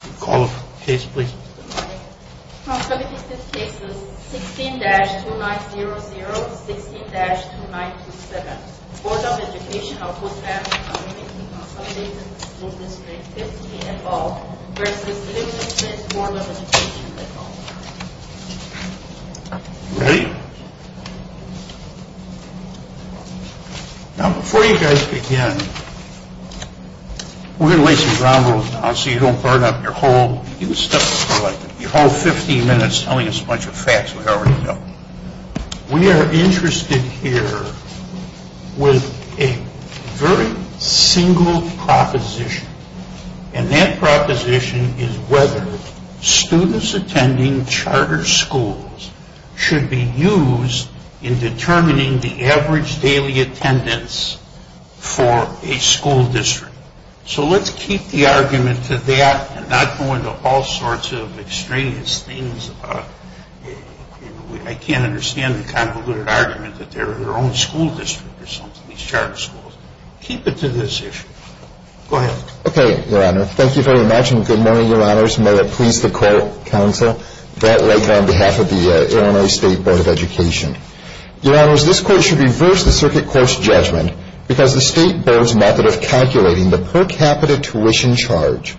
16-2900, 16-2927 Board of Education of Woodland Community Consolidated School District 50 v IL State Board of Education We are interested here with a very single proposition and that proposition is whether students attending charter schools should be used in determining the average daily attendance for a school district. So let's keep the argument to that and not go into all sorts of extraneous things. I can't understand the convoluted argument that they're their own school district or something, these charter schools. Keep it to this issue. Go ahead. Okay, Your Honor. Thank you very much and good morning, Your Honors. May it please the Court, Counsel, Brett White on behalf of the Illinois State Board of Education. Your Honors, this Court should reverse the circuit court's judgment because the State Board's method of calculating the per capita tuition charge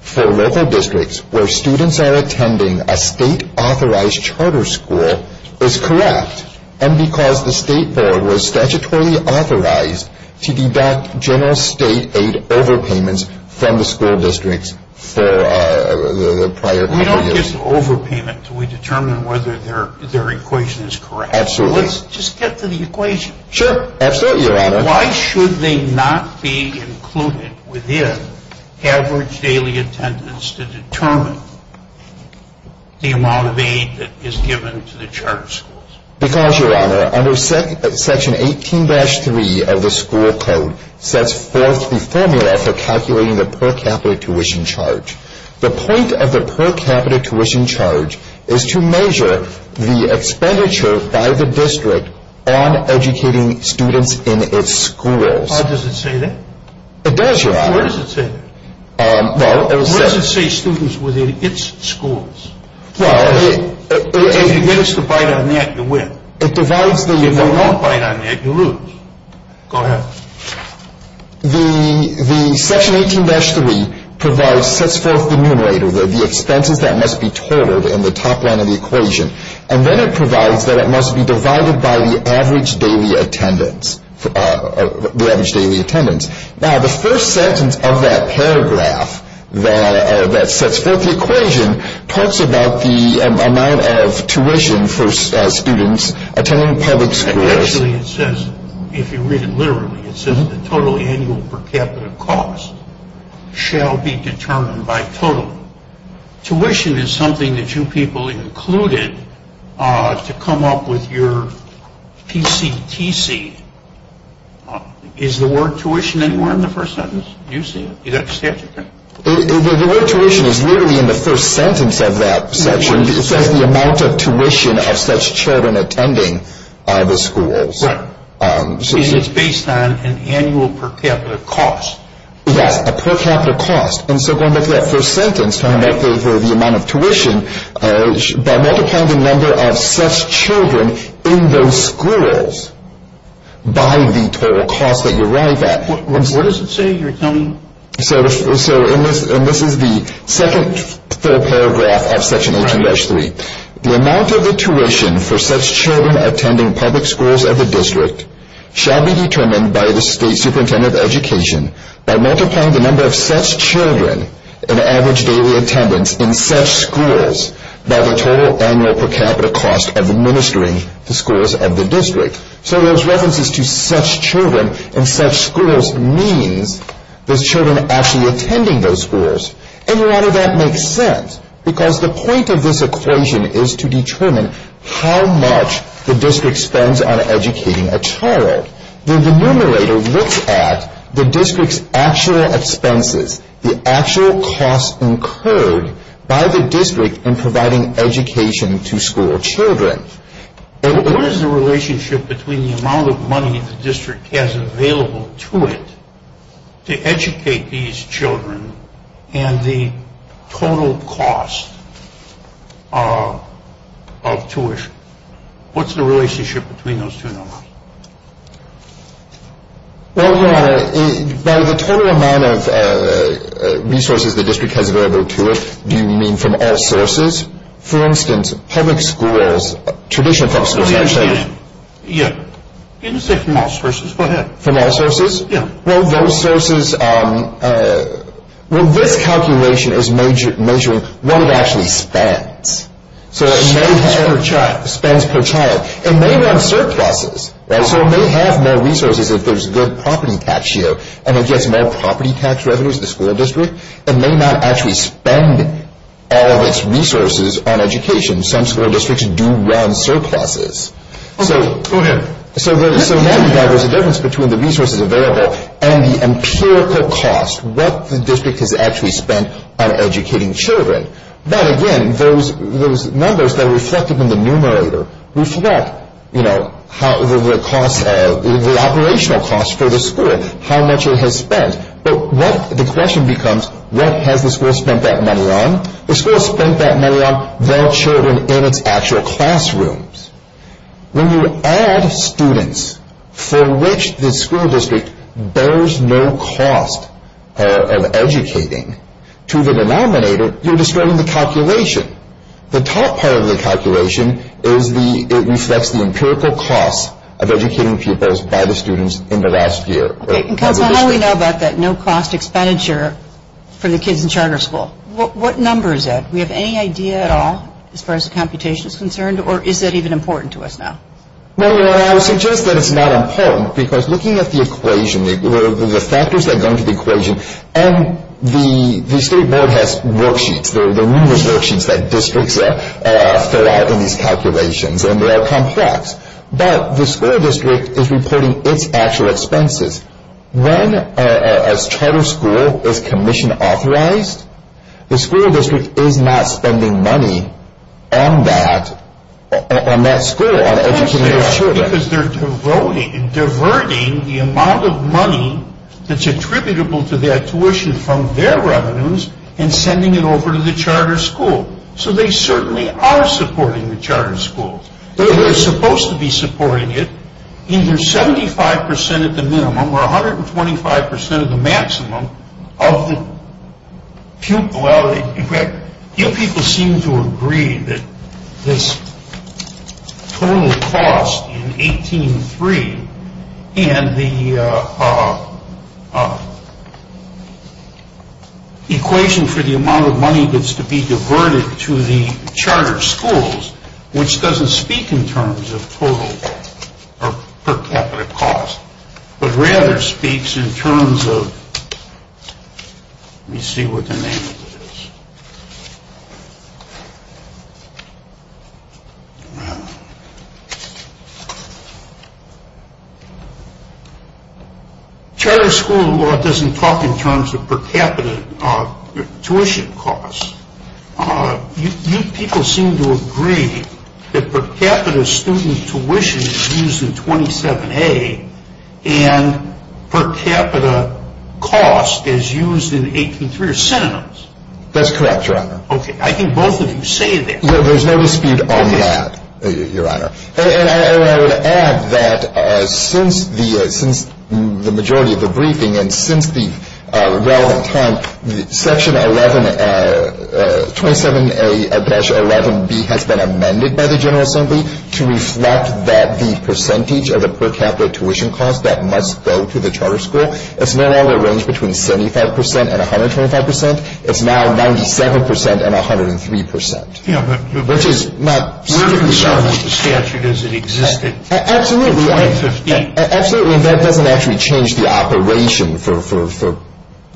for local districts where students are attending a state-authorized charter school is correct and because the State Board was statutorily authorized to deduct general state aid overpayments from the school districts for the prior period. We don't just overpayment. We determine whether their equation is correct. Absolutely. Let's just get to the equation. Sure. Absolutely, Your Honor. Why should they not be included within average daily attendance to determine the amount of aid that is given to the charter schools? Because, Your Honor, under Section 18-3 of the school code sets forth the formula for calculating the per capita tuition charge. The point of the per capita tuition charge is to measure the expenditure by the district on educating students in its schools. How does it say that? It does, Your Honor. Where does it say that? Where does it say students within its schools? If you get us to bite on that, you win. If you don't bite on that, you lose. Go ahead. The Section 18-3 provides, sets forth the numerator, the expenses that must be totaled in the top line of the equation. And then it provides that it must be divided by the average daily attendance. Now the first sentence of that paragraph that sets forth the equation talks about the amount of tuition for students attending public schools. But actually it says, if you read it literally, it says the total annual per capita cost shall be determined by total. Tuition is something that you people included to come up with your PCTC. Is the word tuition anywhere in the first sentence? Do you see it? The word tuition is literally in the first sentence of that section. It says the amount of tuition of such children attending the schools. Right. And it's based on an annual per capita cost. Yes, a per capita cost. And so going back to that first sentence, talking about the amount of tuition, by multiplying the number of such children in those schools by the total cost that you arrive at. What does it say you're telling me? So this is the second paragraph of Section 18-3. The amount of the tuition for such children attending public schools of the district shall be determined by the State Superintendent of Education by multiplying the number of such children in average daily attendance in such schools by the total annual per capita cost of administering the schools of the district. So those references to such children in such schools means there's children actually attending those schools. And a lot of that makes sense because the point of this equation is to determine how much the district spends on educating a child. The numerator looks at the district's actual expenses, the actual costs incurred by the district in providing education to school children. What is the relationship between the amount of money the district has available to it to educate these children and the total cost of tuition? What's the relationship between those two numbers? Well, Your Honor, by the total amount of resources the district has available to it, do you mean from all sources? For instance, public schools, traditional public schools. Yeah. You can say from all sources. Go ahead. From all sources? Yeah. Well, those sources... Well, this calculation is measuring what it actually spends. Spends per child. Spends per child. It may run surpluses. So it may have more resources if there's a good property tax year and it gets more property tax revenues to the school district. It may not actually spend all of its resources on education. Some school districts do run surpluses. Okay. Go ahead. So there's a difference between the resources available and the empirical cost, what the district has actually spent on educating children. But again, those numbers that are reflected in the numerator reflect, you know, the operational costs for the school, how much it has spent. But what the question becomes, what has the school spent that money on? The school has spent that money on their children in its actual classrooms. When you add students for which the school district bears no cost of educating to the denominator, you're destroying the calculation. The top part of the calculation is it reflects the empirical cost of educating pupils by the students in the last year. Okay. And Counselor, how do we know about that no cost expenditure for the kids in charter school? What number is that? Do we have any idea at all as far as the computation is concerned? Or is that even important to us now? Well, you know, I would suggest that it's not important because looking at the equation, the factors that go into the equation and the state board has worksheets. There are numerous worksheets that districts fill out in these calculations and they're all complex. But the school district is reporting its actual expenses. When a charter school is commission authorized, the school district is not spending money on that school, on educating their children. Because they're diverting the amount of money that's attributable to their tuition from their revenues and sending it over to the charter school. So they certainly are supporting the charter schools. They're supposed to be supporting it, either 75% at the minimum or 125% of the maximum of the pupil. Well, you people seem to agree that this total cost in 18-3 and the equation for the amount of money that's to be diverted to the charter schools, which doesn't speak in terms of total or per capita cost, but rather speaks in terms of, let me see what the name of it is. Charter school law doesn't talk in terms of per capita tuition costs. You people seem to agree that per capita student tuition is used in 27A and per capita cost is used in 18-3 are synonyms. That's correct, Your Honor. Okay, I think both of you say that. No, there's no dispute on that, Your Honor. And I would add that since the majority of the briefing and since the relevant time, Section 11, 27A-11B has been amended by the General Assembly to reflect that the percentage of the per capita tuition cost that must go to the charter school, it's no longer a range between 75% and 125%. It's now 97% and 103%. Yeah, but we're concerned with the statute as it existed in 2015. Absolutely, and that doesn't actually change the operation for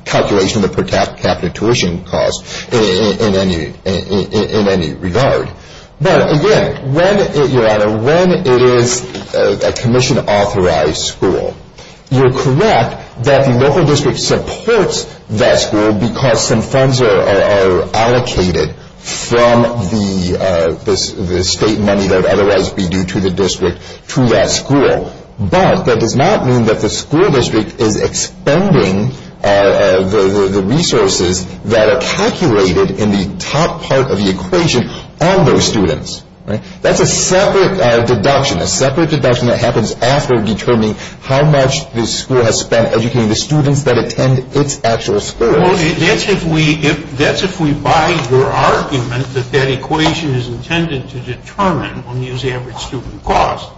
calculation of the per capita tuition cost in any regard. But again, Your Honor, when it is a commission-authorized school, you're correct that the local district supports that school because some funds are allocated from the state money that would otherwise be due to the district to that school. But that does not mean that the school district is expending the resources that are calculated in the top part of the equation on those students. That's a separate deduction. A separate deduction that happens after determining how much the school has spent educating the students that attend its actual schools. Well, that's if we buy your argument that that equation is intended to determine, when you use average student cost,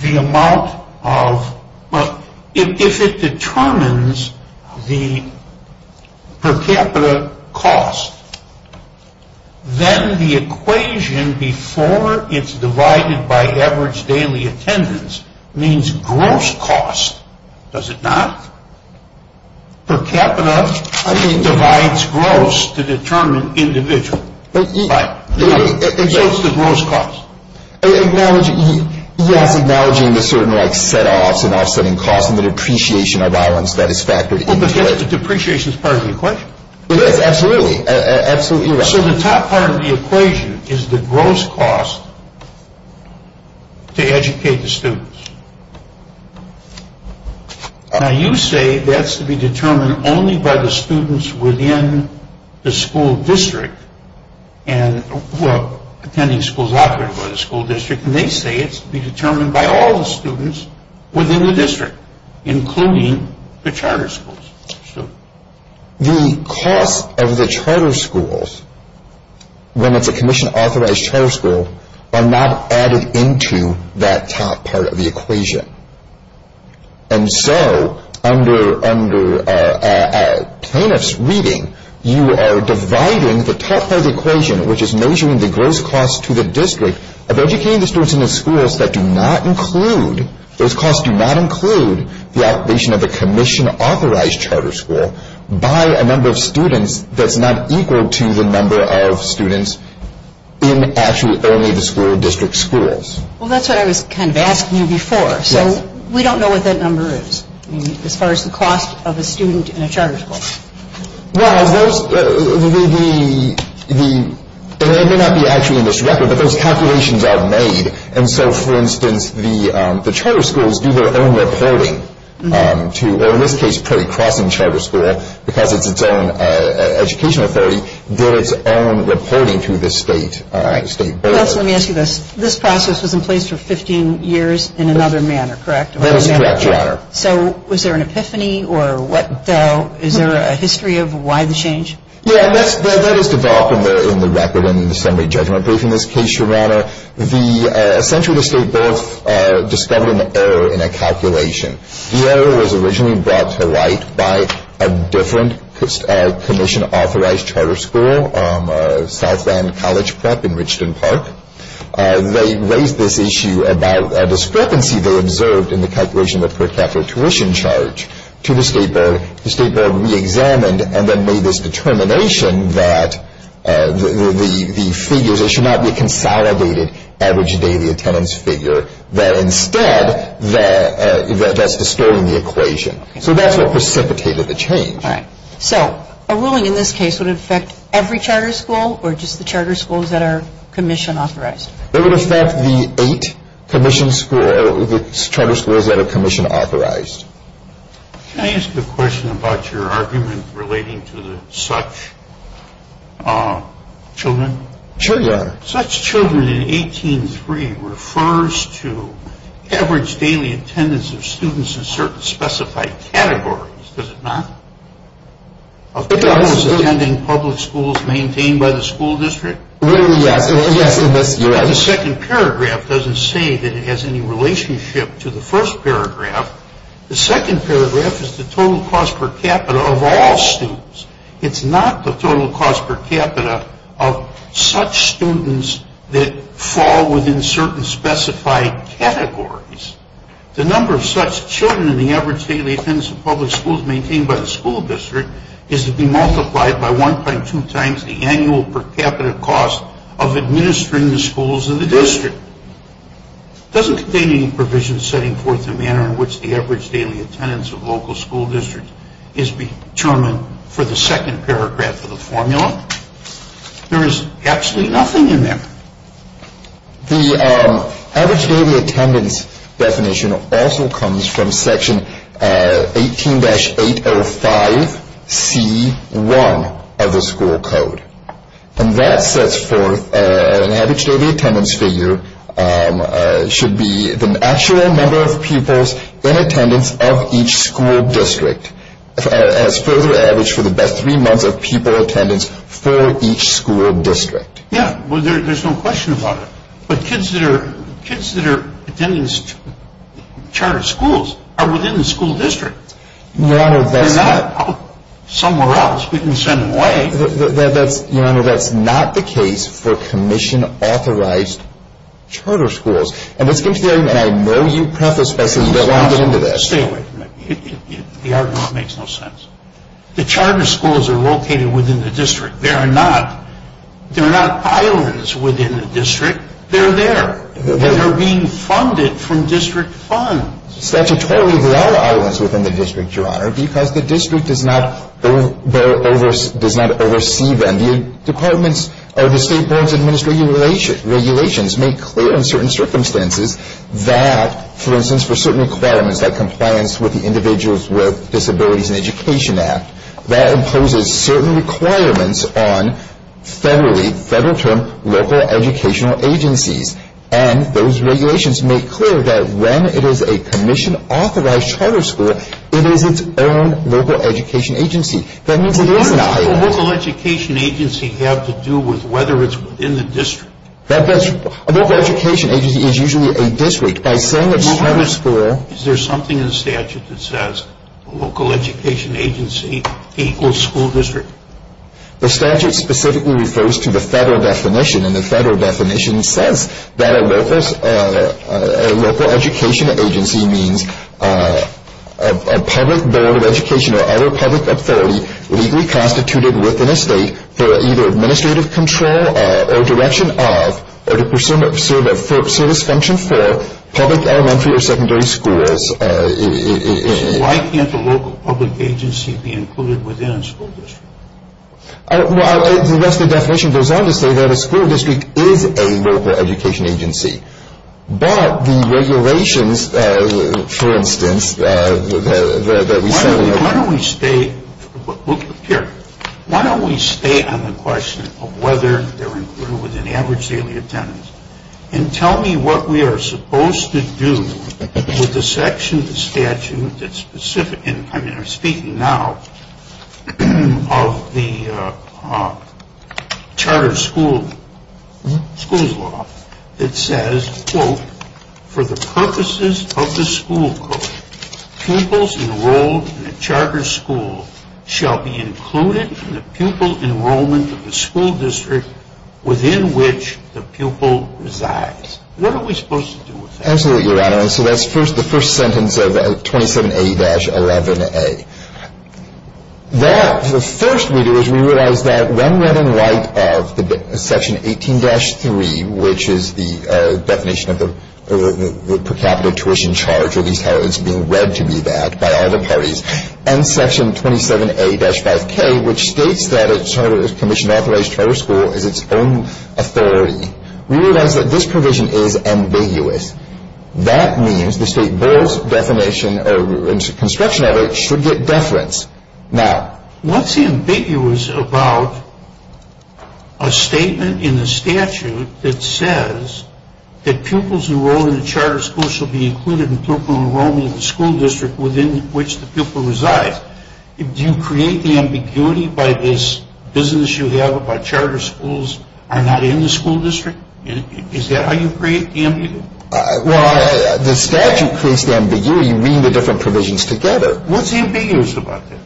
the amount of, well, if it determines the per capita cost, then the equation before it's divided by average daily attendance means gross cost, does it not? Per capita divides gross to determine individual. So it's the gross cost. Acknowledging, yes, acknowledging the certain set-offs and offsetting costs and the depreciation of violence that is factored into it. But the depreciation is part of the equation. It is, absolutely. So the top part of the equation is the gross cost to educate the students. Now you say that's to be determined only by the students within the school district, attending schools operated by the school district, and they say it's to be determined by all the students within the district, including the charter schools. The cost of the charter schools, when it's a commission-authorized charter school, are not added into that top part of the equation. And so under a plaintiff's reading, you are dividing the top part of the equation, which is measuring the gross cost to the district, of educating the students in the schools that do not include, those costs do not include the operation of a commission-authorized charter school, by a number of students that's not equal to the number of students in actually only the school district schools. Well, that's what I was kind of asking you before. Yes. So we don't know what that number is, as far as the cost of a student in a charter school. Well, it may not be actually in this record, but those calculations are made. And so, for instance, the charter schools do their own reporting to, or in this case, pretty crossing charter school, because it's its own education authority, so it did its own reporting to the state board. Let me ask you this. This process was in place for 15 years in another manner, correct? That is correct, Your Honor. So was there an epiphany, or what, though? Is there a history of why the change? Yes, that is developed in the record in the summary judgment brief in this case, Your Honor. Essentially, the state board discovered an error in a calculation. The error was originally brought to light by a different commission-authorized charter school, Southland College Prep in Richmond Park. They raised this issue about a discrepancy they observed in the calculation of the per capita tuition charge to the state board. The state board reexamined and then made this determination that the figures, they should not be a consolidated average daily attendance figure, that instead that's distorting the equation. So that's what precipitated the change. All right. So a ruling in this case would affect every charter school, or just the charter schools that are commission-authorized? It would affect the eight charter schools that are commission-authorized. Can I ask a question about your argument relating to the such children? Sure, Your Honor. Such children in 18-3 refers to average daily attendance of students in certain specified categories, does it not? Of those attending public schools maintained by the school district? Yes. The second paragraph doesn't say that it has any relationship to the first paragraph. The second paragraph is the total cost per capita of all students. It's not the total cost per capita of such students that fall within certain specified categories. The number of such children in the average daily attendance of public schools maintained by the school district is to be multiplied by 1.2 times the annual per capita cost of administering the schools in the district. It doesn't contain any provision setting forth the manner in which the average daily attendance of local school districts is determined for the second paragraph of the formula. There is absolutely nothing in there. The average daily attendance definition also comes from Section 18-805C1 of the school code, and that sets forth an average daily attendance figure should be the actual number of pupils in attendance of each school district as further averaged for the best three months of pupil attendance for each school district. Yeah, there's no question about it. But kids that are attending charter schools are within the school district. Your Honor, that's not... Somewhere else, we can send them away. Your Honor, that's not the case for commission-authorized charter schools. And let's get to the argument. I know you prefaced this, but let me get into this. Stay away from that. The argument makes no sense. The charter schools are located within the district. They're not islands within the district. They're there. They're being funded from district funds. Statutorily, they are islands within the district, Your Honor, because the district does not oversee them. The State Board's administrative regulations make clear in certain circumstances that, for instance, for certain requirements like compliance with the Individuals with Disabilities and Education Act, that imposes certain requirements on federally, federal term, local educational agencies. And those regulations make clear that when it is a commission-authorized charter school, it is its own local education agency. That means it is an island. What does a local education agency have to do with whether it's within the district? A local education agency is usually a district. By saying it's a charter school... Your Honor, is there something in the statute that says a local education agency equals school district? The statute specifically refers to the federal definition. And the federal definition says that a local education agency means a public board of education or other public authority legally constituted within a state for either administrative control or direction of or to pursue a service function for public elementary or secondary schools. Why can't a local public agency be included within a school district? Well, the rest of the definition goes on to say that a school district is a local education agency. But the regulations, for instance, that we said... Why don't we stay... Look here. Why don't we stay on the question of whether they're included within average daily attendance and tell me what we are supposed to do with the section of the statute that's specific... I mean, I'm speaking now of the charter school's law that says, quote, for the purposes of the school code, pupils enrolled in a charter school shall be included in the pupil enrollment of the school district within which the pupil resides. What are we supposed to do with that? Absolutely, Your Honor. So that's the first sentence of 27A-11A. The first we do is we realize that when read in light of Section 18-3, which is the definition of the per capita tuition charge, or at least how it's being read to be that by all the parties, and Section 27A-5K, which states that a charter school is its own authority, we realize that this provision is ambiguous. That means the State Board's construction of it should get deference. Now, what's ambiguous about a statement in the statute that says that pupils enrolled in a charter school shall be included in the pupil enrollment of the school district within which the pupil resides? Do you create the ambiguity by this business you have about charter schools are not in the school district? Is that how you create the ambiguity? Well, the statute creates the ambiguity when you read the different provisions together. What's ambiguous about that?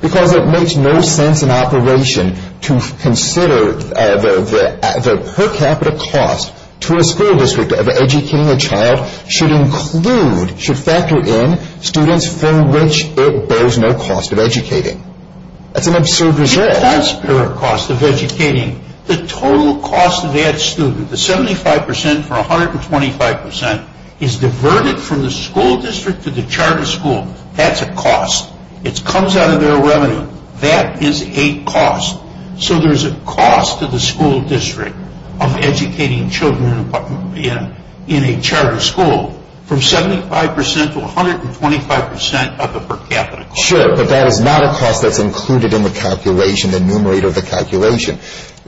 Because it makes no sense in operation to consider the per capita cost to a school district of educating a child should include, should factor in, students for which it bears no cost of educating. That's an absurd result. It does bear a cost of educating. The total cost of that student, the 75% for 125%, is diverted from the school district to the charter school. That's a cost. It comes out of their revenue. That is a cost. So there's a cost to the school district of educating children in a charter school from 75% to 125% of the per capita cost. Sure, but that is not a cost that's included in the calculation, the numerator of the calculation.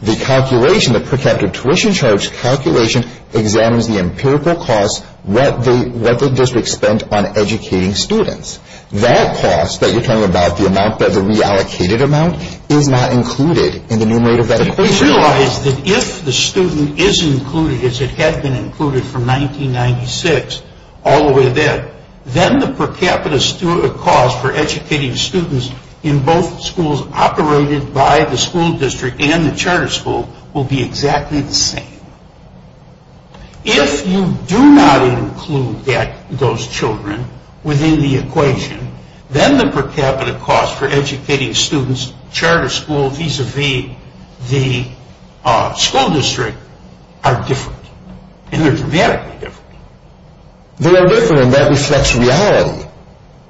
The calculation, the per capita tuition charge calculation, examines the empirical cost, what the district spent on educating students. That cost that you're talking about, the amount, the reallocated amount, is not included in the numerator of that equation. We realize that if the student is included as it had been included from 1996 all the way to then, then the per capita cost for educating students in both schools operated by the school district and the charter school will be exactly the same. If you do not include those children within the equation, then the per capita cost for educating students, charter school vis-a-vis the school district, are different. And they're dramatically different. They are different. That reflects reality,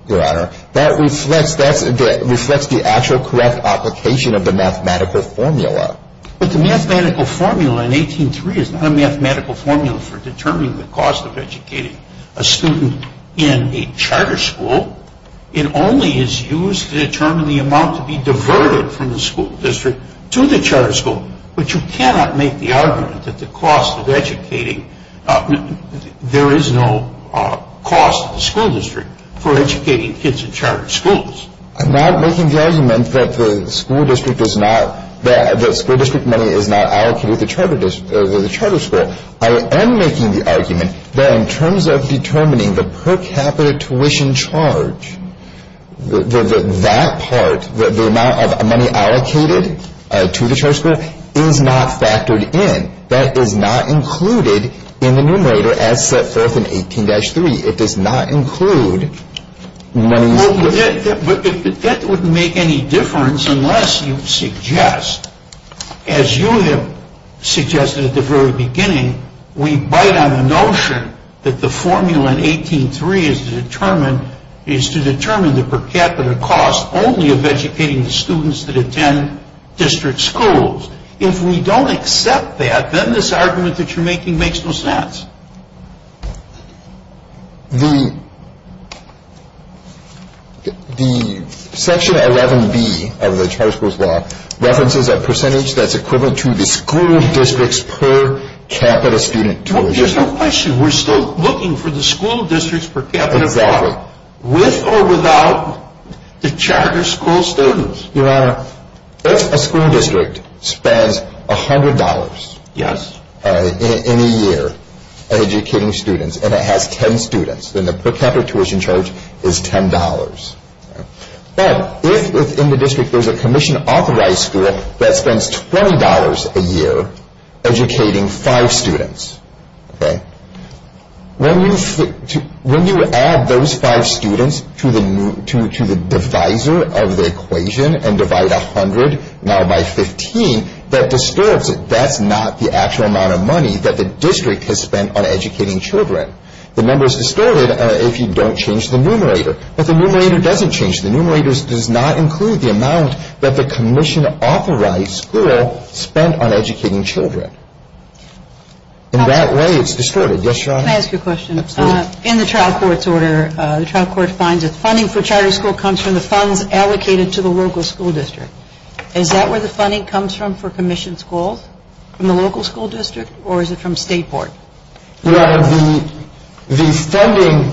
Your Honor. That reflects the actual correct application of the mathematical formula. But the mathematical formula in 18-3 is not a mathematical formula for determining the cost of educating a student in a charter school. It only is used to determine the amount to be diverted from the school district to the charter school. But you cannot make the argument that the cost of educating, there is no cost to the school district for educating kids in charter schools. I'm not making the argument that the school district money is not allocated to the charter school. I am making the argument that in terms of determining the per capita tuition charge, that part, the amount of money allocated to the charter school, is not factored in. That is not included in the numerator as set forth in 18-3. It does not include money. But that wouldn't make any difference unless you suggest, as you have suggested at the very beginning, we bite on the notion that the formula in 18-3 is to determine the per capita cost only of educating the students that attend district schools. If we don't accept that, then this argument that you're making makes no sense. The section 11-B of the charter school's law references a percentage that's equivalent to the school district's per capita student tuition. There's no question we're still looking for the school district's per capita. Exactly. With or without the charter school students. Your Honor, if a school district spends $100 in a year educating students and it has 10 students, then the per capita tuition charge is $10. But if in the district there's a commission-authorized school that spends $20 a year educating 5 students, when you add those 5 students to the divisor of the equation and divide 100 now by 15, that distorts it. That's not the actual amount of money that the district has spent on educating children. The number is distorted if you don't change the numerator. But the numerator doesn't change. The numerator does not include the amount that the commission-authorized school spent on educating children. In that way, it's distorted. Yes, Your Honor? Can I ask you a question? Absolutely. In the trial court's order, the trial court finds that funding for charter school comes from the funds allocated to the local school district. Is that where the funding comes from for commissioned schools, from the local school district, or is it from State Board? Well, the funding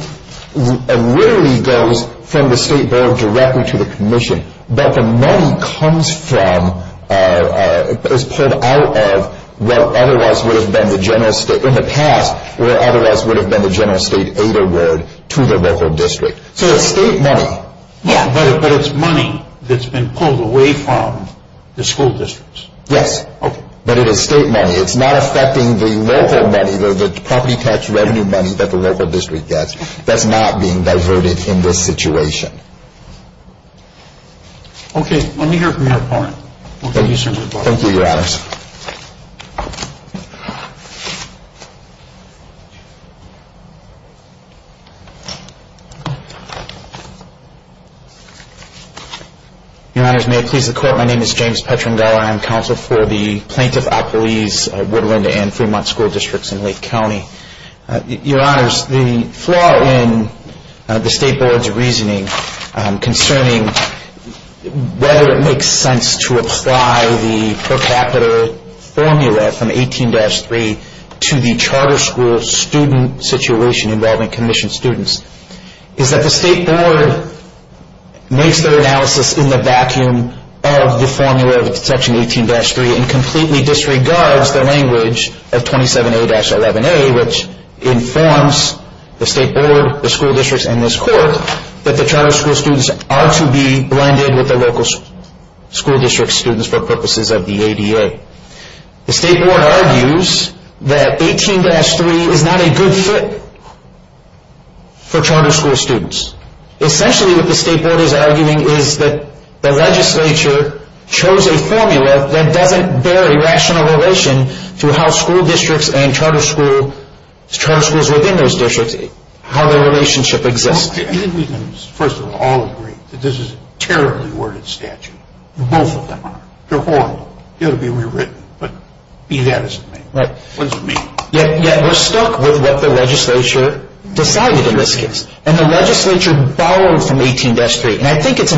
literally goes from the State Board directly to the commission. But the money comes from, is pulled out of what otherwise would have been the General State, in the past, what otherwise would have been the General State Aid Award to the local district. So it's State money. Yeah, but it's money that's been pulled away from the school districts. Yes. Okay. But it is State money. It's not affecting the local money, the property tax revenue money that the local district gets. That's not being diverted in this situation. Okay. Let me hear from your opponent. Thank you, sir. Thank you, Your Honors. Your Honors, may it please the Court. My name is James Petrangela. I'm Counsel for the Plaintiff-Appellees, Woodland and Fremont School Districts in Lake County. Your Honors, the flaw in the State Board's reasoning concerning whether it makes sense to apply the per capita formula from 18-3 to the charter school student situation involving commissioned students is that the State Board makes their analysis in the vacuum of the formula of Section 18-3 and completely disregards the language of 27A-11A, which informs the State Board, the school districts, and this Court that the charter school students are to be blended with the local school district students for purposes of the ADA. The State Board argues that 18-3 is not a good fit for charter school students. Essentially, what the State Board is arguing is that the legislature chose a formula that doesn't bear a rational relation to how school districts and charter schools within those districts, how their relationship exists. I think we can, first of all, all agree that this is a terribly worded statute. Both of them are. They're horrible. They ought to be rewritten. But be that as it may. But we're stuck with what the legislature decided in this case. And the legislature borrowed from 18-3. And I think it's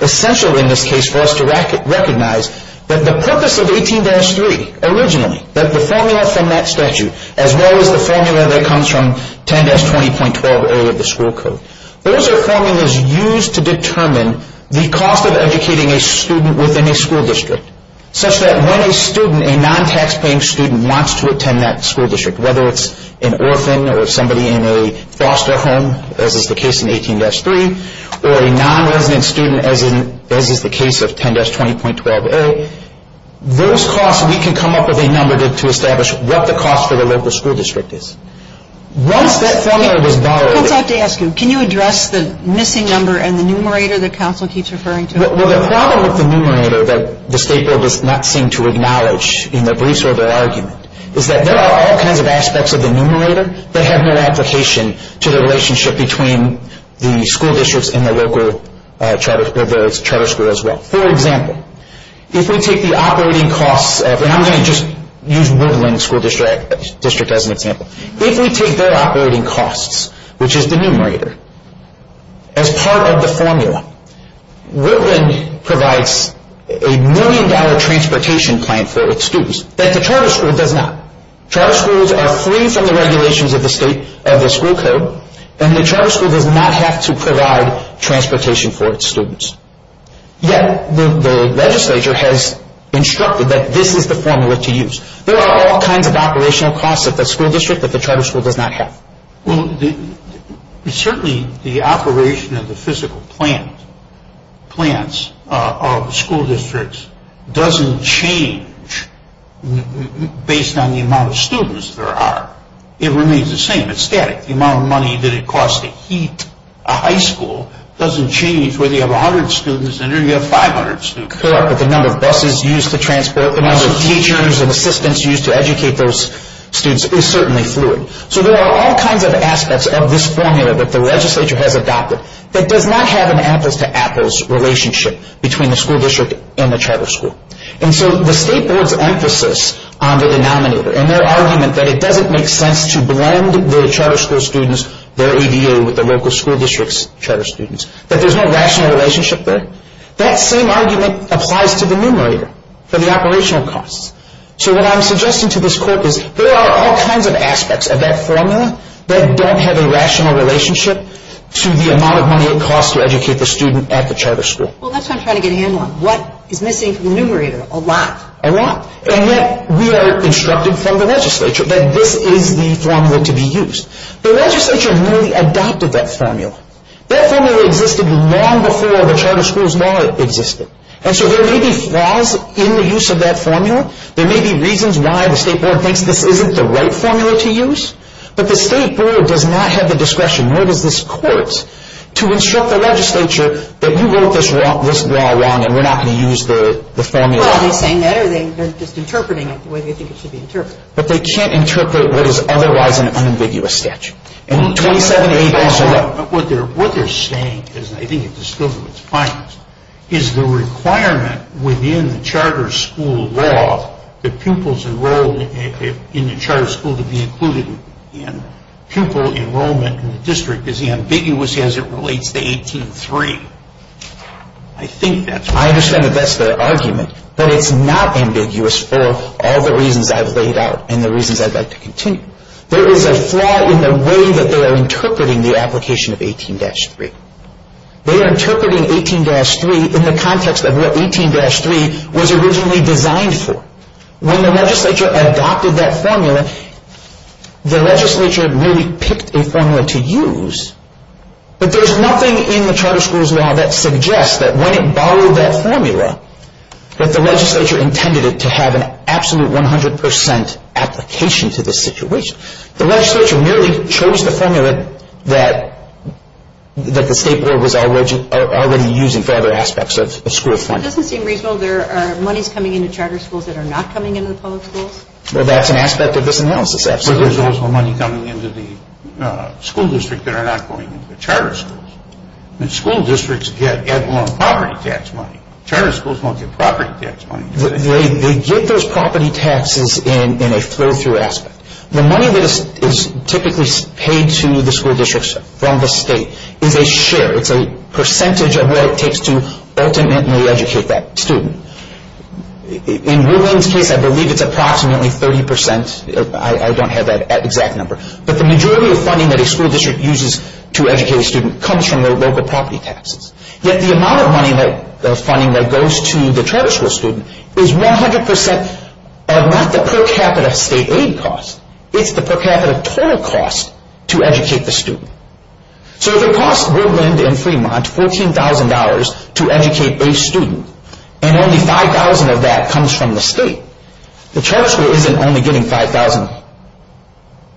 essential in this case for us to recognize that the purpose of 18-3 originally, that the formula from that statute, as well as the formula that comes from 10-20.12A of the school code, those are formulas used to determine the cost of educating a student within a school district, such that when a student, a non-taxpaying student, wants to attend that school district, whether it's an orphan or somebody in a foster home, as is the case in 18-3, or a non-resident student, as is the case of 10-20.12A, those costs, we can come up with a number to establish what the cost for the local school district is. Once that formula was borrowed. Let me ask you. Can you address the missing number and the numerator that counsel keeps referring to? Well, the problem with the numerator that the state bill does not seem to acknowledge in the briefs or the argument is that there are all kinds of aspects of the numerator that have no application to the relationship between the school districts and the local charter school as well. For example, if we take the operating costs of, and I'm going to just use Woodland School District as an example. If we take their operating costs, which is the numerator, as part of the formula, Woodland provides a million-dollar transportation plan for its students that the charter school does not. Charter schools are free from the regulations of the state, of the school code, and the charter school does not have to provide transportation for its students. Yet, the legislature has instructed that this is the formula to use. There are all kinds of operational costs at the school district that the charter school does not have. Well, certainly the operation of the physical plans of the school districts doesn't change based on the amount of students there are. It remains the same. It's static. The amount of money that it costs to heat a high school doesn't change whether you have 100 students in there or you have 500 students. The number of buses used to transport, the number of teachers and assistants used to educate those students is certainly fluid. So there are all kinds of aspects of this formula that the legislature has adopted that does not have an apples-to-apples relationship between the school district and the charter school. And so the state board's emphasis on the denominator, and their argument that it doesn't make sense to blend the charter school students, their ADA, with the local school district's charter students, that there's no rational relationship there, that same argument applies to the numerator for the operational costs. So what I'm suggesting to this court is there are all kinds of aspects of that formula that don't have a rational relationship to the amount of money it costs to educate the student at the charter school. Well, that's what I'm trying to get a handle on. What is missing from the numerator? A lot. A lot. And yet we are instructed from the legislature that this is the formula to be used. The legislature merely adopted that formula. That formula existed long before the charter school's law existed. And so there may be flaws in the use of that formula. There may be reasons why the state board thinks this isn't the right formula to use. But the state board does not have the discretion, nor does this court, to instruct the legislature that you wrote this law wrong and we're not going to use the formula. Well, are they saying that or are they just interpreting it the way they think it should be interpreted? But they can't interpret what is otherwise an unambiguous statute. What they're saying is, and I think it's still to its finest, is the requirement within the charter school law that pupils enrolled in the charter school to be included in pupil enrollment in the district is ambiguous as it relates to 18-3. I think that's right. I understand that that's their argument. But it's not ambiguous for all the reasons I've laid out and the reasons I'd like to continue. There is a flaw in the way that they are interpreting the application of 18-3. They are interpreting 18-3 in the context of what 18-3 was originally designed for. When the legislature adopted that formula, the legislature really picked a formula to use. But there's nothing in the charter school's law that suggests that when it borrowed that formula, that the legislature intended it to have an absolute 100 percent application to the situation. The legislature merely chose the formula that the state board was already using for other aspects of school reform. It doesn't seem reasonable. There are monies coming into charter schools that are not coming into the public schools. Well, that's an aspect of this analysis, absolutely. But there's also money coming into the school district that are not going into the charter schools. The school districts get property tax money. Charter schools don't get property tax money. They get those property taxes in a flow-through aspect. The money that is typically paid to the school districts from the state is a share. It's a percentage of what it takes to ultimately educate that student. In Woodland's case, I believe it's approximately 30 percent. I don't have that exact number. But the majority of funding that a school district uses to educate a student comes from their local property taxes. Yet the amount of funding that goes to the charter school student is 100 percent of not the per capita state aid cost. It's the per capita total cost to educate the student. So if it costs Woodland and Fremont $14,000 to educate a student, and only $5,000 of that comes from the state, the charter school isn't only getting $5,000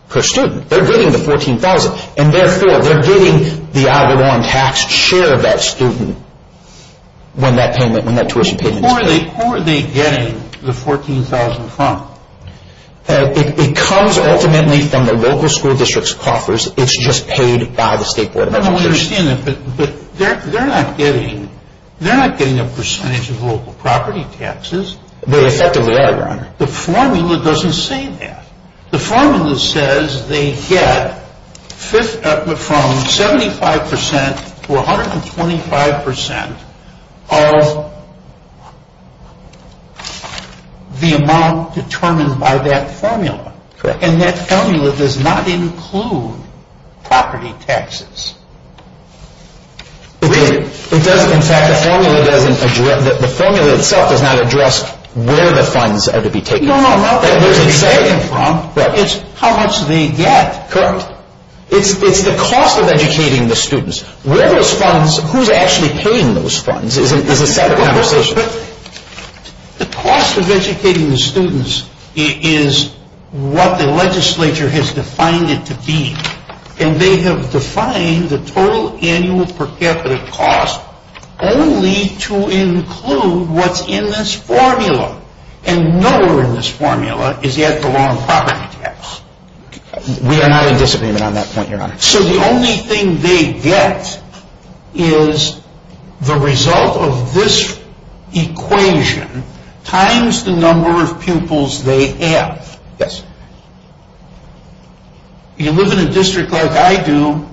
per student. They're getting the $14,000. And therefore, they're getting the hour-long tax share of that student when that tuition payment is paid. Who are they getting the $14,000 from? It comes ultimately from the local school district's coffers. It's just paid by the State Board of Education. I understand that, but they're not getting a percentage of local property taxes. They effectively are, Your Honor. The formula doesn't say that. The formula says they get from 75 percent to 125 percent of the amount determined by that formula. And that formula does not include property taxes. In fact, the formula itself does not address where the funds are to be taken from. No, no, not where they're taken from. It's how much they get. Correct. It's the cost of educating the students. Where those funds, who's actually paying those funds is a separate conversation. But the cost of educating the students is what the legislature has defined it to be. And they have defined the total annual per capita cost only to include what's in this formula. And nowhere in this formula is that the wrong property tax. We are not in disagreement on that point, Your Honor. So the only thing they get is the result of this equation times the number of pupils they have. Yes. You live in a district like I do,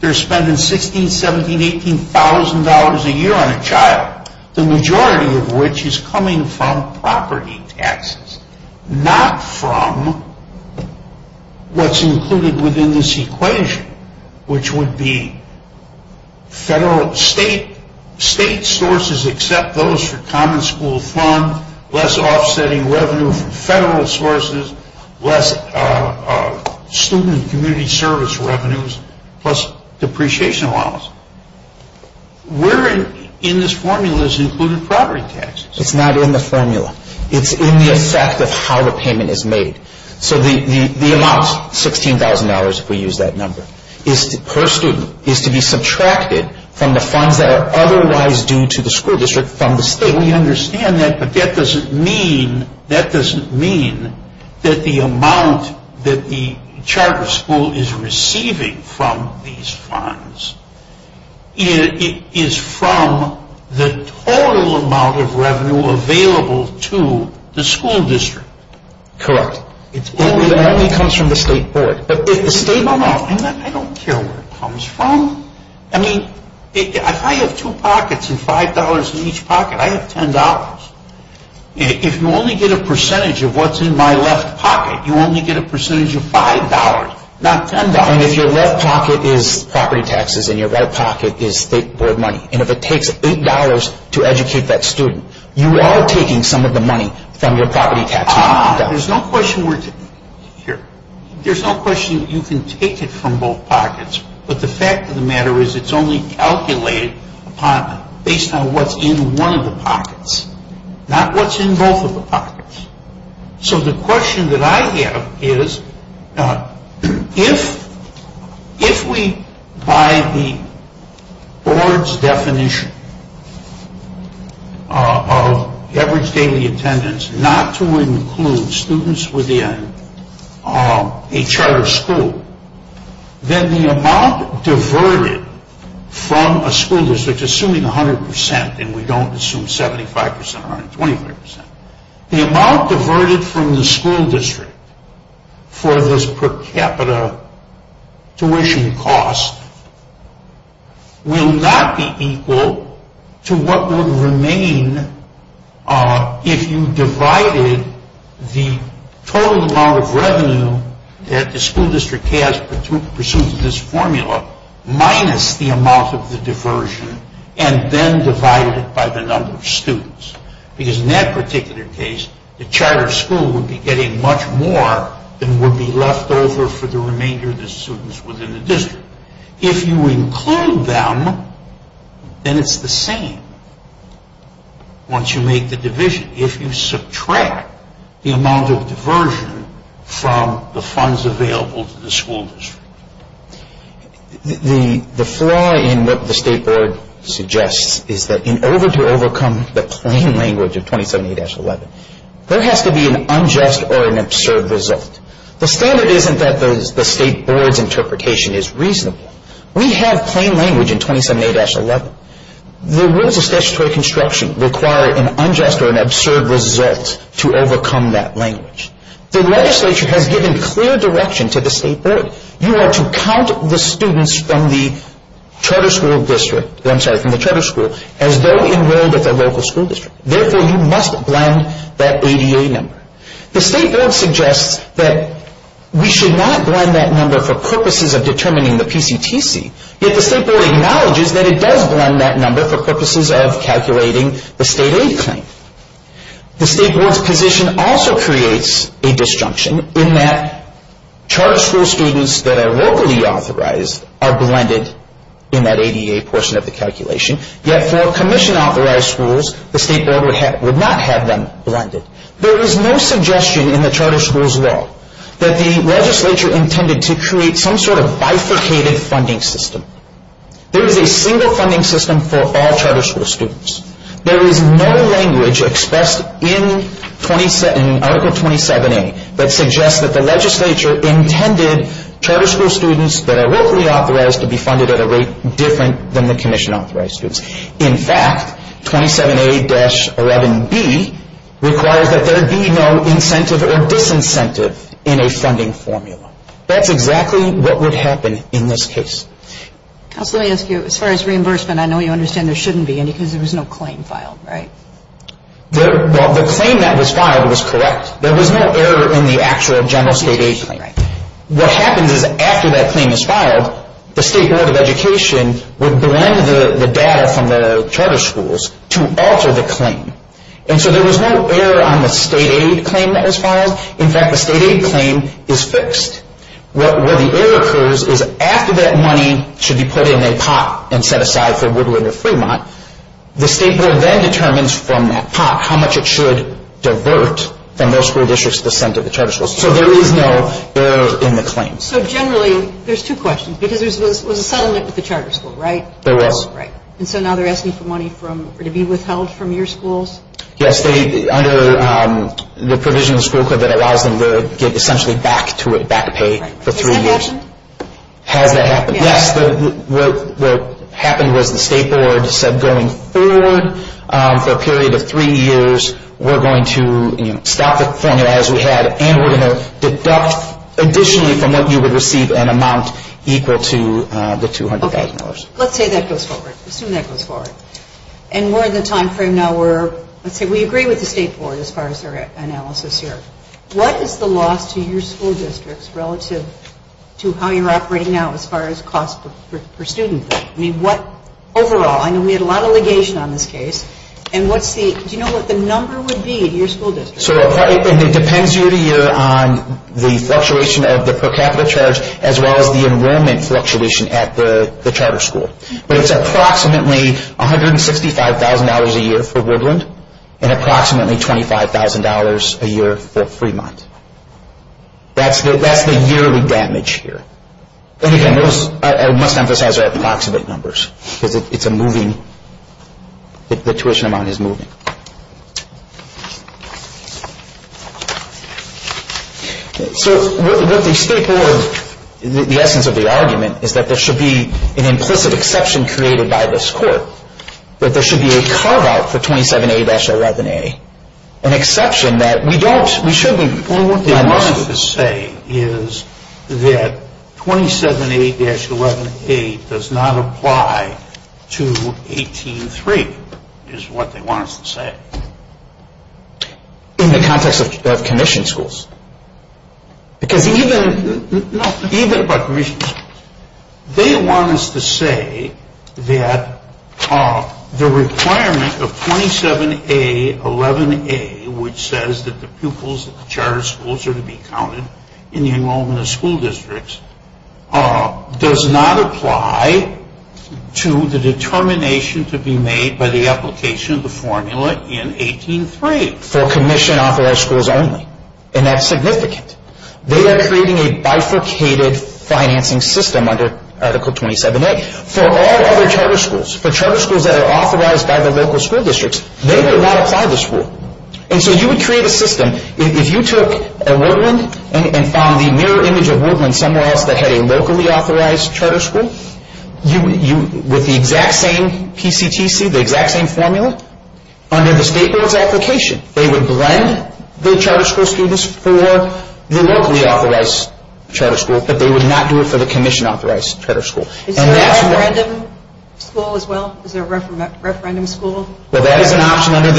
they're spending $16,000, $17,000, $18,000 a year on a child. The majority of which is coming from property taxes, not from what's included within this equation, which would be federal, state sources except those for common school fund, less offsetting revenue from federal sources, less student and community service revenues, plus depreciation allowance. Where in this formula is included property taxes? It's not in the formula. It's in the effect of how the payment is made. So the amount, $16,000 if we use that number, per student, is to be subtracted from the funds that are otherwise due to the school district from the state. We understand that, but that doesn't mean that the amount that the charter school is receiving from these funds is from the total amount of revenue available to the school district. Correct. It only comes from the state board. The state, no, no, I don't care where it comes from. I mean, if I have two pockets and $5 in each pocket, I have $10. If you only get a percentage of what's in my left pocket, you only get a percentage of $5, not $10. And if your left pocket is property taxes and your right pocket is state board money, and if it takes $8 to educate that student, you are taking some of the money from your property taxes. There's no question you can take it from both pockets, but the fact of the matter is it's only calculated based on what's in one of the pockets, not what's in both of the pockets. So the question that I have is if we, by the board's definition of average daily attendance, not to include students within a charter school, then the amount diverted from a school district, assuming 100% and we don't assume 75% or 125%, the amount diverted from the school district for this per capita tuition cost will not be equal to what would remain if you divided the total amount of revenue that the school district has pursuant to this formula minus the amount of the diversion and then divided it by the number of students. Because in that particular case, the charter school would be getting much more than would be left over for the remainder of the students within the district. If you include them, then it's the same once you make the division. If you subtract the amount of diversion from the funds available to the school district. The flaw in what the State Board suggests is that in order to overcome the plain language of 27A-11, there has to be an unjust or an absurd result. The standard isn't that the State Board's interpretation is reasonable. We have plain language in 27A-11. The rules of statutory construction require an unjust or an absurd result to overcome that language. The legislature has given clear direction to the State Board. You are to count the students from the charter school as though enrolled at the local school district. Therefore, you must blend that ADA number. The State Board suggests that we should not blend that number for purposes of determining the PCTC, yet the State Board acknowledges that it does blend that number for purposes of calculating the state aid claim. The State Board's position also creates a disjunction in that charter school students that are locally authorized are blended in that ADA portion of the calculation, yet for commission-authorized schools, the State Board would not have them blended. There is no suggestion in the charter school's law that the legislature intended to create some sort of bifurcated funding system. There is a single funding system for all charter school students. There is no language expressed in Article 27A that suggests that the legislature intended charter school students that are locally authorized to be funded at a rate different than the commission-authorized students. In fact, 27A-11B requires that there be no incentive or disincentive in a funding formula. That's exactly what would happen in this case. Counsel, let me ask you, as far as reimbursement, I know you understand there shouldn't be any because there was no claim filed, right? The claim that was filed was correct. There was no error in the actual general state aid claim. What happens is after that claim is filed, the State Board of Education would blend the data from the charter schools to alter the claim. And so there was no error on the state aid claim that was filed. In fact, the state aid claim is fixed. Where the error occurs is after that money should be put in a pot and set aside for Woodland or Fremont, the state board then determines from that pot how much it should divert from those school districts to the center of the charter schools. So there is no error in the claim. So generally, there's two questions because there was a settlement with the charter school, right? There was. And so now they're asking for money to be withheld from your schools? Yes, under the provision of the school code that allows them to get essentially back to it, back pay for three years. Has that happened? Has that happened? Yes. What happened was the state board said going forward for a period of three years, we're going to stop the formula as we had and we're going to deduct additionally from what you would receive an amount equal to the $200,000. Okay. Let's say that goes forward. Assume that goes forward. And we're in the time frame now where let's say we agree with the state board as far as our analysis here. What is the loss to your school districts relative to how you're operating now as far as cost per student? I mean, what overall? I know we had a lot of legation on this case. And what's the, do you know what the number would be in your school district? So it depends year to year on the fluctuation of the per capita charge as well as the enrollment fluctuation at the charter school. But it's approximately $165,000 a year for Woodland and approximately $25,000 a year for Fremont. That's the yearly damage here. And again, I must emphasize that approximate numbers because it's a moving, the tuition amount is moving. So what the state board, the essence of the argument is that there should be an implicit exception created by this court. That there should be a carve out for 27A-11A, an exception that we don't, we shouldn't. Well, what they want us to say is that 27A-11A does not apply to 18-3 is what they want us to say. In the context of commission schools? Because even, no, even about commission schools. They want us to say that the requirement of 27A-11A, which says that the pupils at the charter schools are to be counted in the enrollment of school districts, does not apply to the determination to be made by the application of the formula in 18-3. For commission off all schools only. And that's significant. They are creating a bifurcated financing system under Article 27A for all other charter schools. For charter schools that are authorized by the local school districts, they would not apply this rule. And so you would create a system. If you took a Woodland and found the mirror image of Woodland somewhere else that had a locally authorized charter school, with the exact same PCTC, the exact same formula, under the state board's application, they would blend the charter school students for the locally authorized charter school, but they would not do it for the commission authorized charter school. Is there a referendum school as well? Is there a referendum school? Well, that is an option under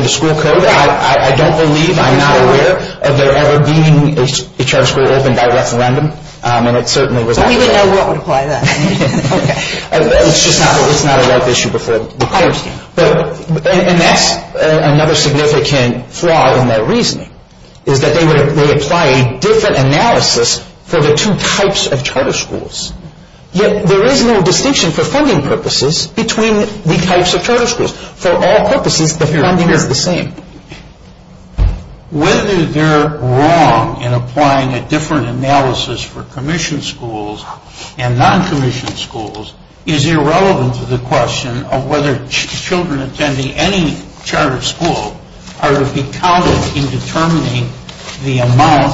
the school code. I don't believe, I'm not aware, of there ever being a charter school opened by referendum. And it certainly was not. Well, we wouldn't know what would apply then. It's just not a ripe issue before the courts. And that's another significant flaw in their reasoning, is that they would apply a different analysis for the two types of charter schools. Yet there is no distinction for funding purposes between the types of charter schools. For all purposes, the funding is the same. Whether they're wrong in applying a different analysis for commission schools and non-commissioned schools is irrelevant to the question of whether children attending any charter school are to be counted in determining the amount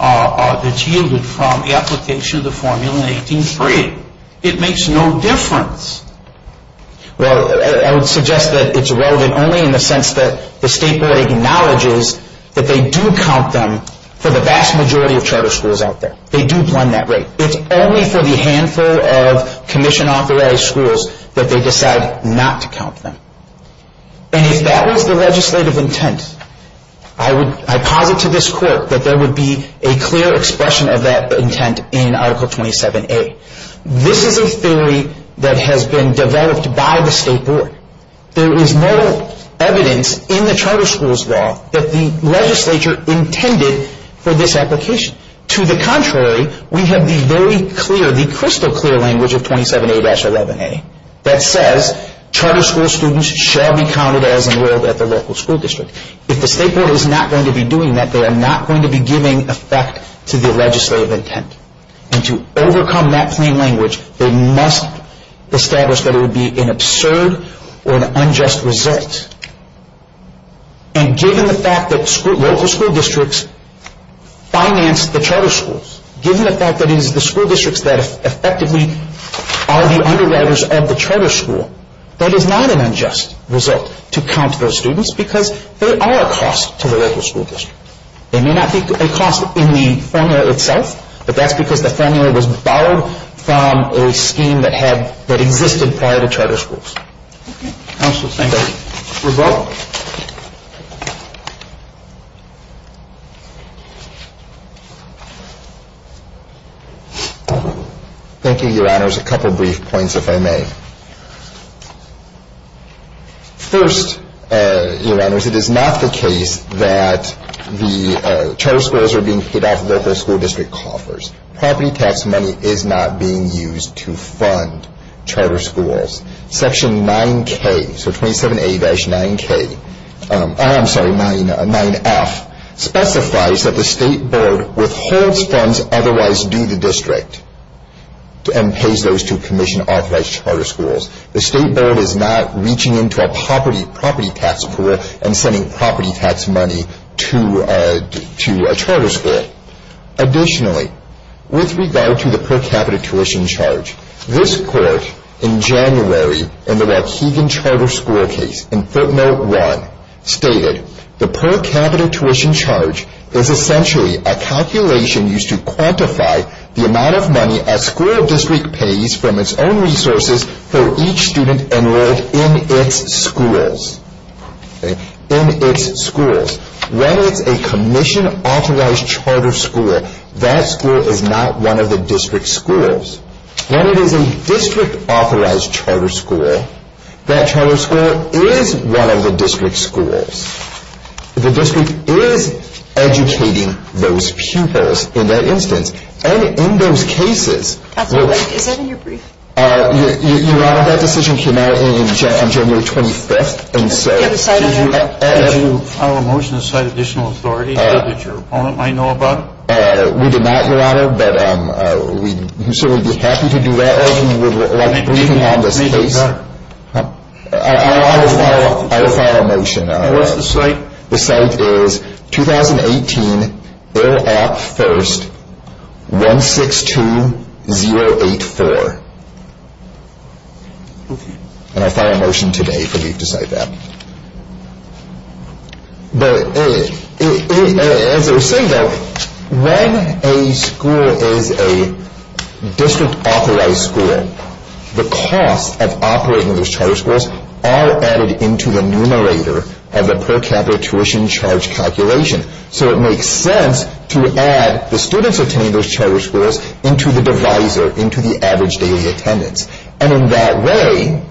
that's yielded from the application of the formula in 1838. It makes no difference. Well, I would suggest that it's relevant only in the sense that the state board acknowledges that they do count them for the vast majority of charter schools out there. They do blend that rate. It's only for the handful of commission-authorized schools that they decide not to count them. And if that was the legislative intent, I posit to this court that there would be a clear expression of that intent in Article 27A. This is a theory that has been developed by the state board. There is no evidence in the charter schools law that the legislature intended for this application. To the contrary, we have the crystal clear language of 27A-11A that says charter school students shall be counted as enrolled at the local school district. If the state board is not going to be doing that, they are not going to be giving effect to the legislative intent. And to overcome that plain language, they must establish that it would be an absurd or an unjust result. And given the fact that local school districts finance the charter schools, given the fact that it is the school districts that effectively are the underwriters of the charter school, that is not an unjust result to count those students because there are costs to the local school district. There may not be a cost in the formula itself, but that's because the formula was borrowed from a scheme that existed prior to charter schools. Okay. Counsel, thank you. Rebel? Thank you, Your Honors. A couple of brief points, if I may. First, Your Honors, it is not the case that the charter schools are being paid off local school district coffers. Property tax money is not being used to fund charter schools. Section 9K, so 27A-9F, specifies that the state board withholds funds otherwise due to the district and pays those to commission authorized charter schools. The state board is not reaching into a property tax pool and sending property tax money to a charter school. Additionally, with regard to the per capita tuition charge, this court in January in the Waukegan Charter School case, in footnote 1, stated the per capita tuition charge is essentially a calculation used to quantify the amount of money a school district pays from its own resources for each student enrolled in its schools. In its schools. When it's a commission authorized charter school, that school is not one of the district schools. When it is a district authorized charter school, that charter school is one of the district schools. The district is educating those pupils in that instance. And in those cases... Is that in your brief? Your Honor, that decision came out on January 25th, and so... Did you file a motion to cite additional authority that your opponent might know about? We did not, Your Honor, but we'd certainly be happy to do that if you would like to brief me on this case. I will file a motion. And what's the cite? The cite is 2018, Ill Act 1st, 162084. And I'll file a motion today for you to cite that. As I was saying, though, when a school is a district authorized school, the costs of operating those charter schools are added into the numerator of the per capita tuition charge calculation. So it makes sense to add the students attending those charter schools into the divisor, into the average daily attendance. And in that way,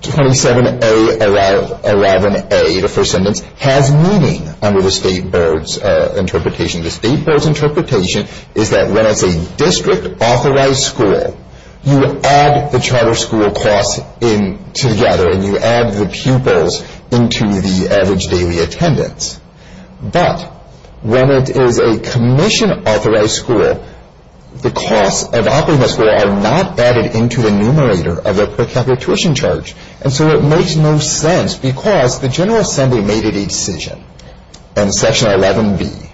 27A11A, the first sentence, has meaning under the state board's interpretation. The state board's interpretation is that when it's a district authorized school, you add the charter school costs in together, and you add the pupils into the average daily attendance. But when it is a commission authorized school, the costs of operating the school are not added into the numerator of the per capita tuition charge. And so it makes no sense because the General Assembly made a decision in Section 11B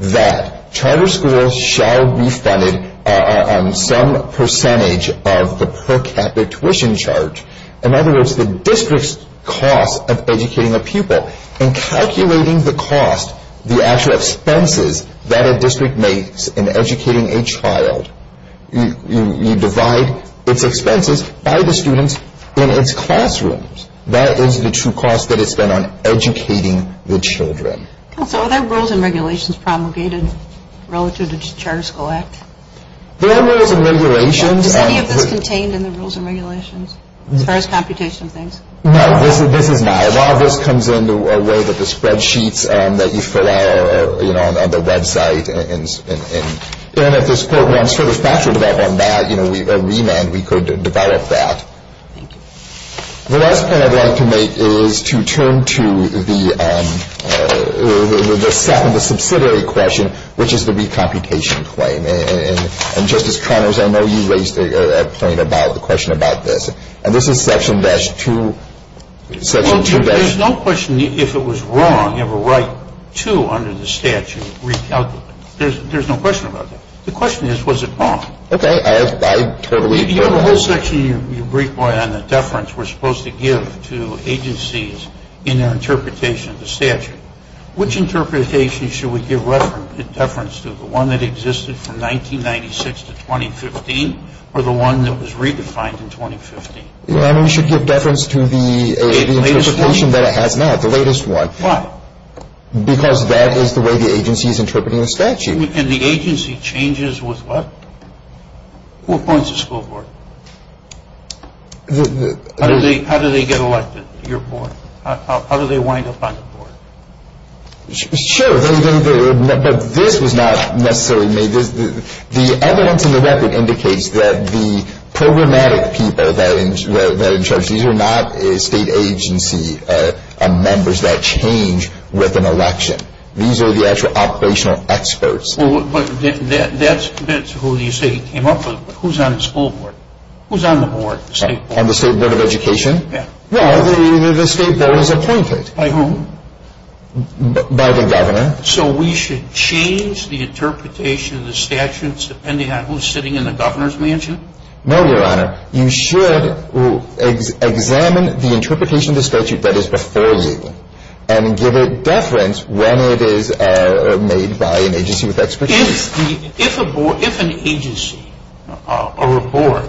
that charter schools shall be funded on some percentage of the per capita tuition charge. In other words, the district's cost of educating a pupil and calculating the cost, the actual expenses that a district makes in educating a child. You divide its expenses by the students in its classrooms. That is the true cost that it's spent on educating the children. Counsel, are there rules and regulations promulgated relative to the Charter School Act? There are rules and regulations. Is any of this contained in the rules and regulations as far as computational things? No, this is not. A lot of this comes into a way that the spreadsheets that you fill out on the website. And if this court wants further factual development on that, a remand, we could develop that. Thank you. The last point I'd like to make is to turn to the second, the subsidiary question, which is the recomputation claim. And, Justice Connors, I know you raised a point about the question about this. And this is Section 2. There's no question if it was wrong, you have a right to, under the statute, recalculate. There's no question about that. The question is, was it wrong? Okay. I totally agree with that. You have a whole section you brief on the deference we're supposed to give to agencies in their interpretation of the statute. Which interpretation should we give reference to, the one that existed from 1996 to 2015, or the one that was redefined in 2015? I mean, we should give reference to the interpretation that it has now, the latest one. Why? Because that is the way the agency is interpreting the statute. And the agency changes with what? Who appoints the school board? How do they get elected to your board? How do they wind up on the board? Sure. But this was not necessarily made. The evidence in the record indicates that the programmatic people that are in charge, these are not state agency members that change with an election. These are the actual operational experts. But that's who you say he came up with. Who's on the school board? Who's on the board, the state board? On the state board of education? Yeah. No, the state board is appointed. By whom? By the governor. So we should change the interpretation of the statutes depending on who's sitting in the governor's mansion? No, Your Honor. You should examine the interpretation of the statute that is before you and give it deference when it is made by an agency with expertise. If an agency or a board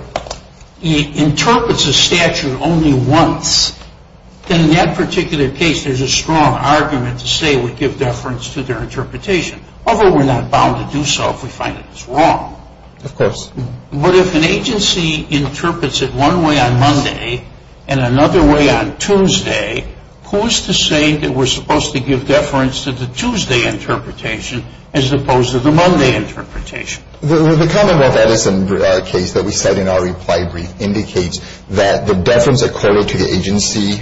interprets a statute only once, then in that particular case there's a strong argument to say we give deference to their interpretation. Although we're not bound to do so if we find that it's wrong. Of course. But if an agency interprets it one way on Monday and another way on Tuesday, who is to say that we're supposed to give deference to the Tuesday interpretation as opposed to the Monday interpretation? The Commonwealth Edison case that we cite in our reply brief indicates that the deference according to the agency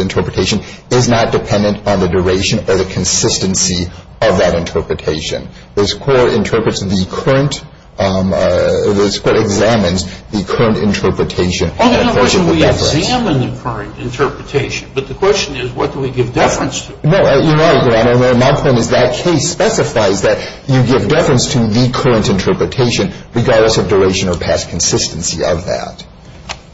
interpretation is not dependent on the duration or the consistency of that interpretation. This court interprets the current, this court examines the current interpretation. Oh, no, no. We examine the current interpretation. But the question is what do we give deference to? No, you're right, Your Honor. My point is that case specifies that you give deference to the current interpretation regardless of duration or past consistency of that.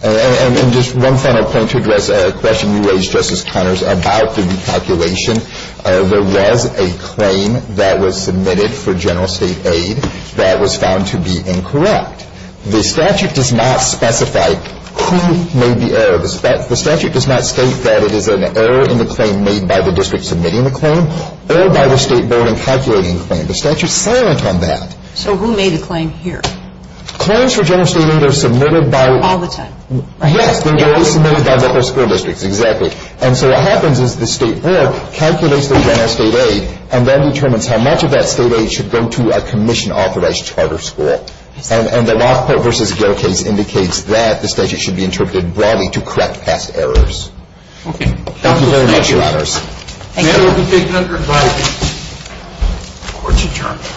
And just one final point to address a question you raised, Justice Connors, about the recalculation. There was a claim that was submitted for general state aid that was found to be incorrect. The statute does not specify who made the error. The statute does not state that it is an error in the claim made by the district submitting the claim or by the State Board in calculating the claim. The statute is silent on that. So who made the claim here? Claims for general state aid are submitted by the whole school district. Exactly. And so what happens is the State Board calculates the general state aid and then determines how much of that state aid should go to a commission-authorized charter school. And the Rockport v. Gail case indicates that the statute should be interpreted broadly to correct past errors. Okay. Thank you very much, Your Honors. Thank you. The matter will be taken under advisory. Court is adjourned.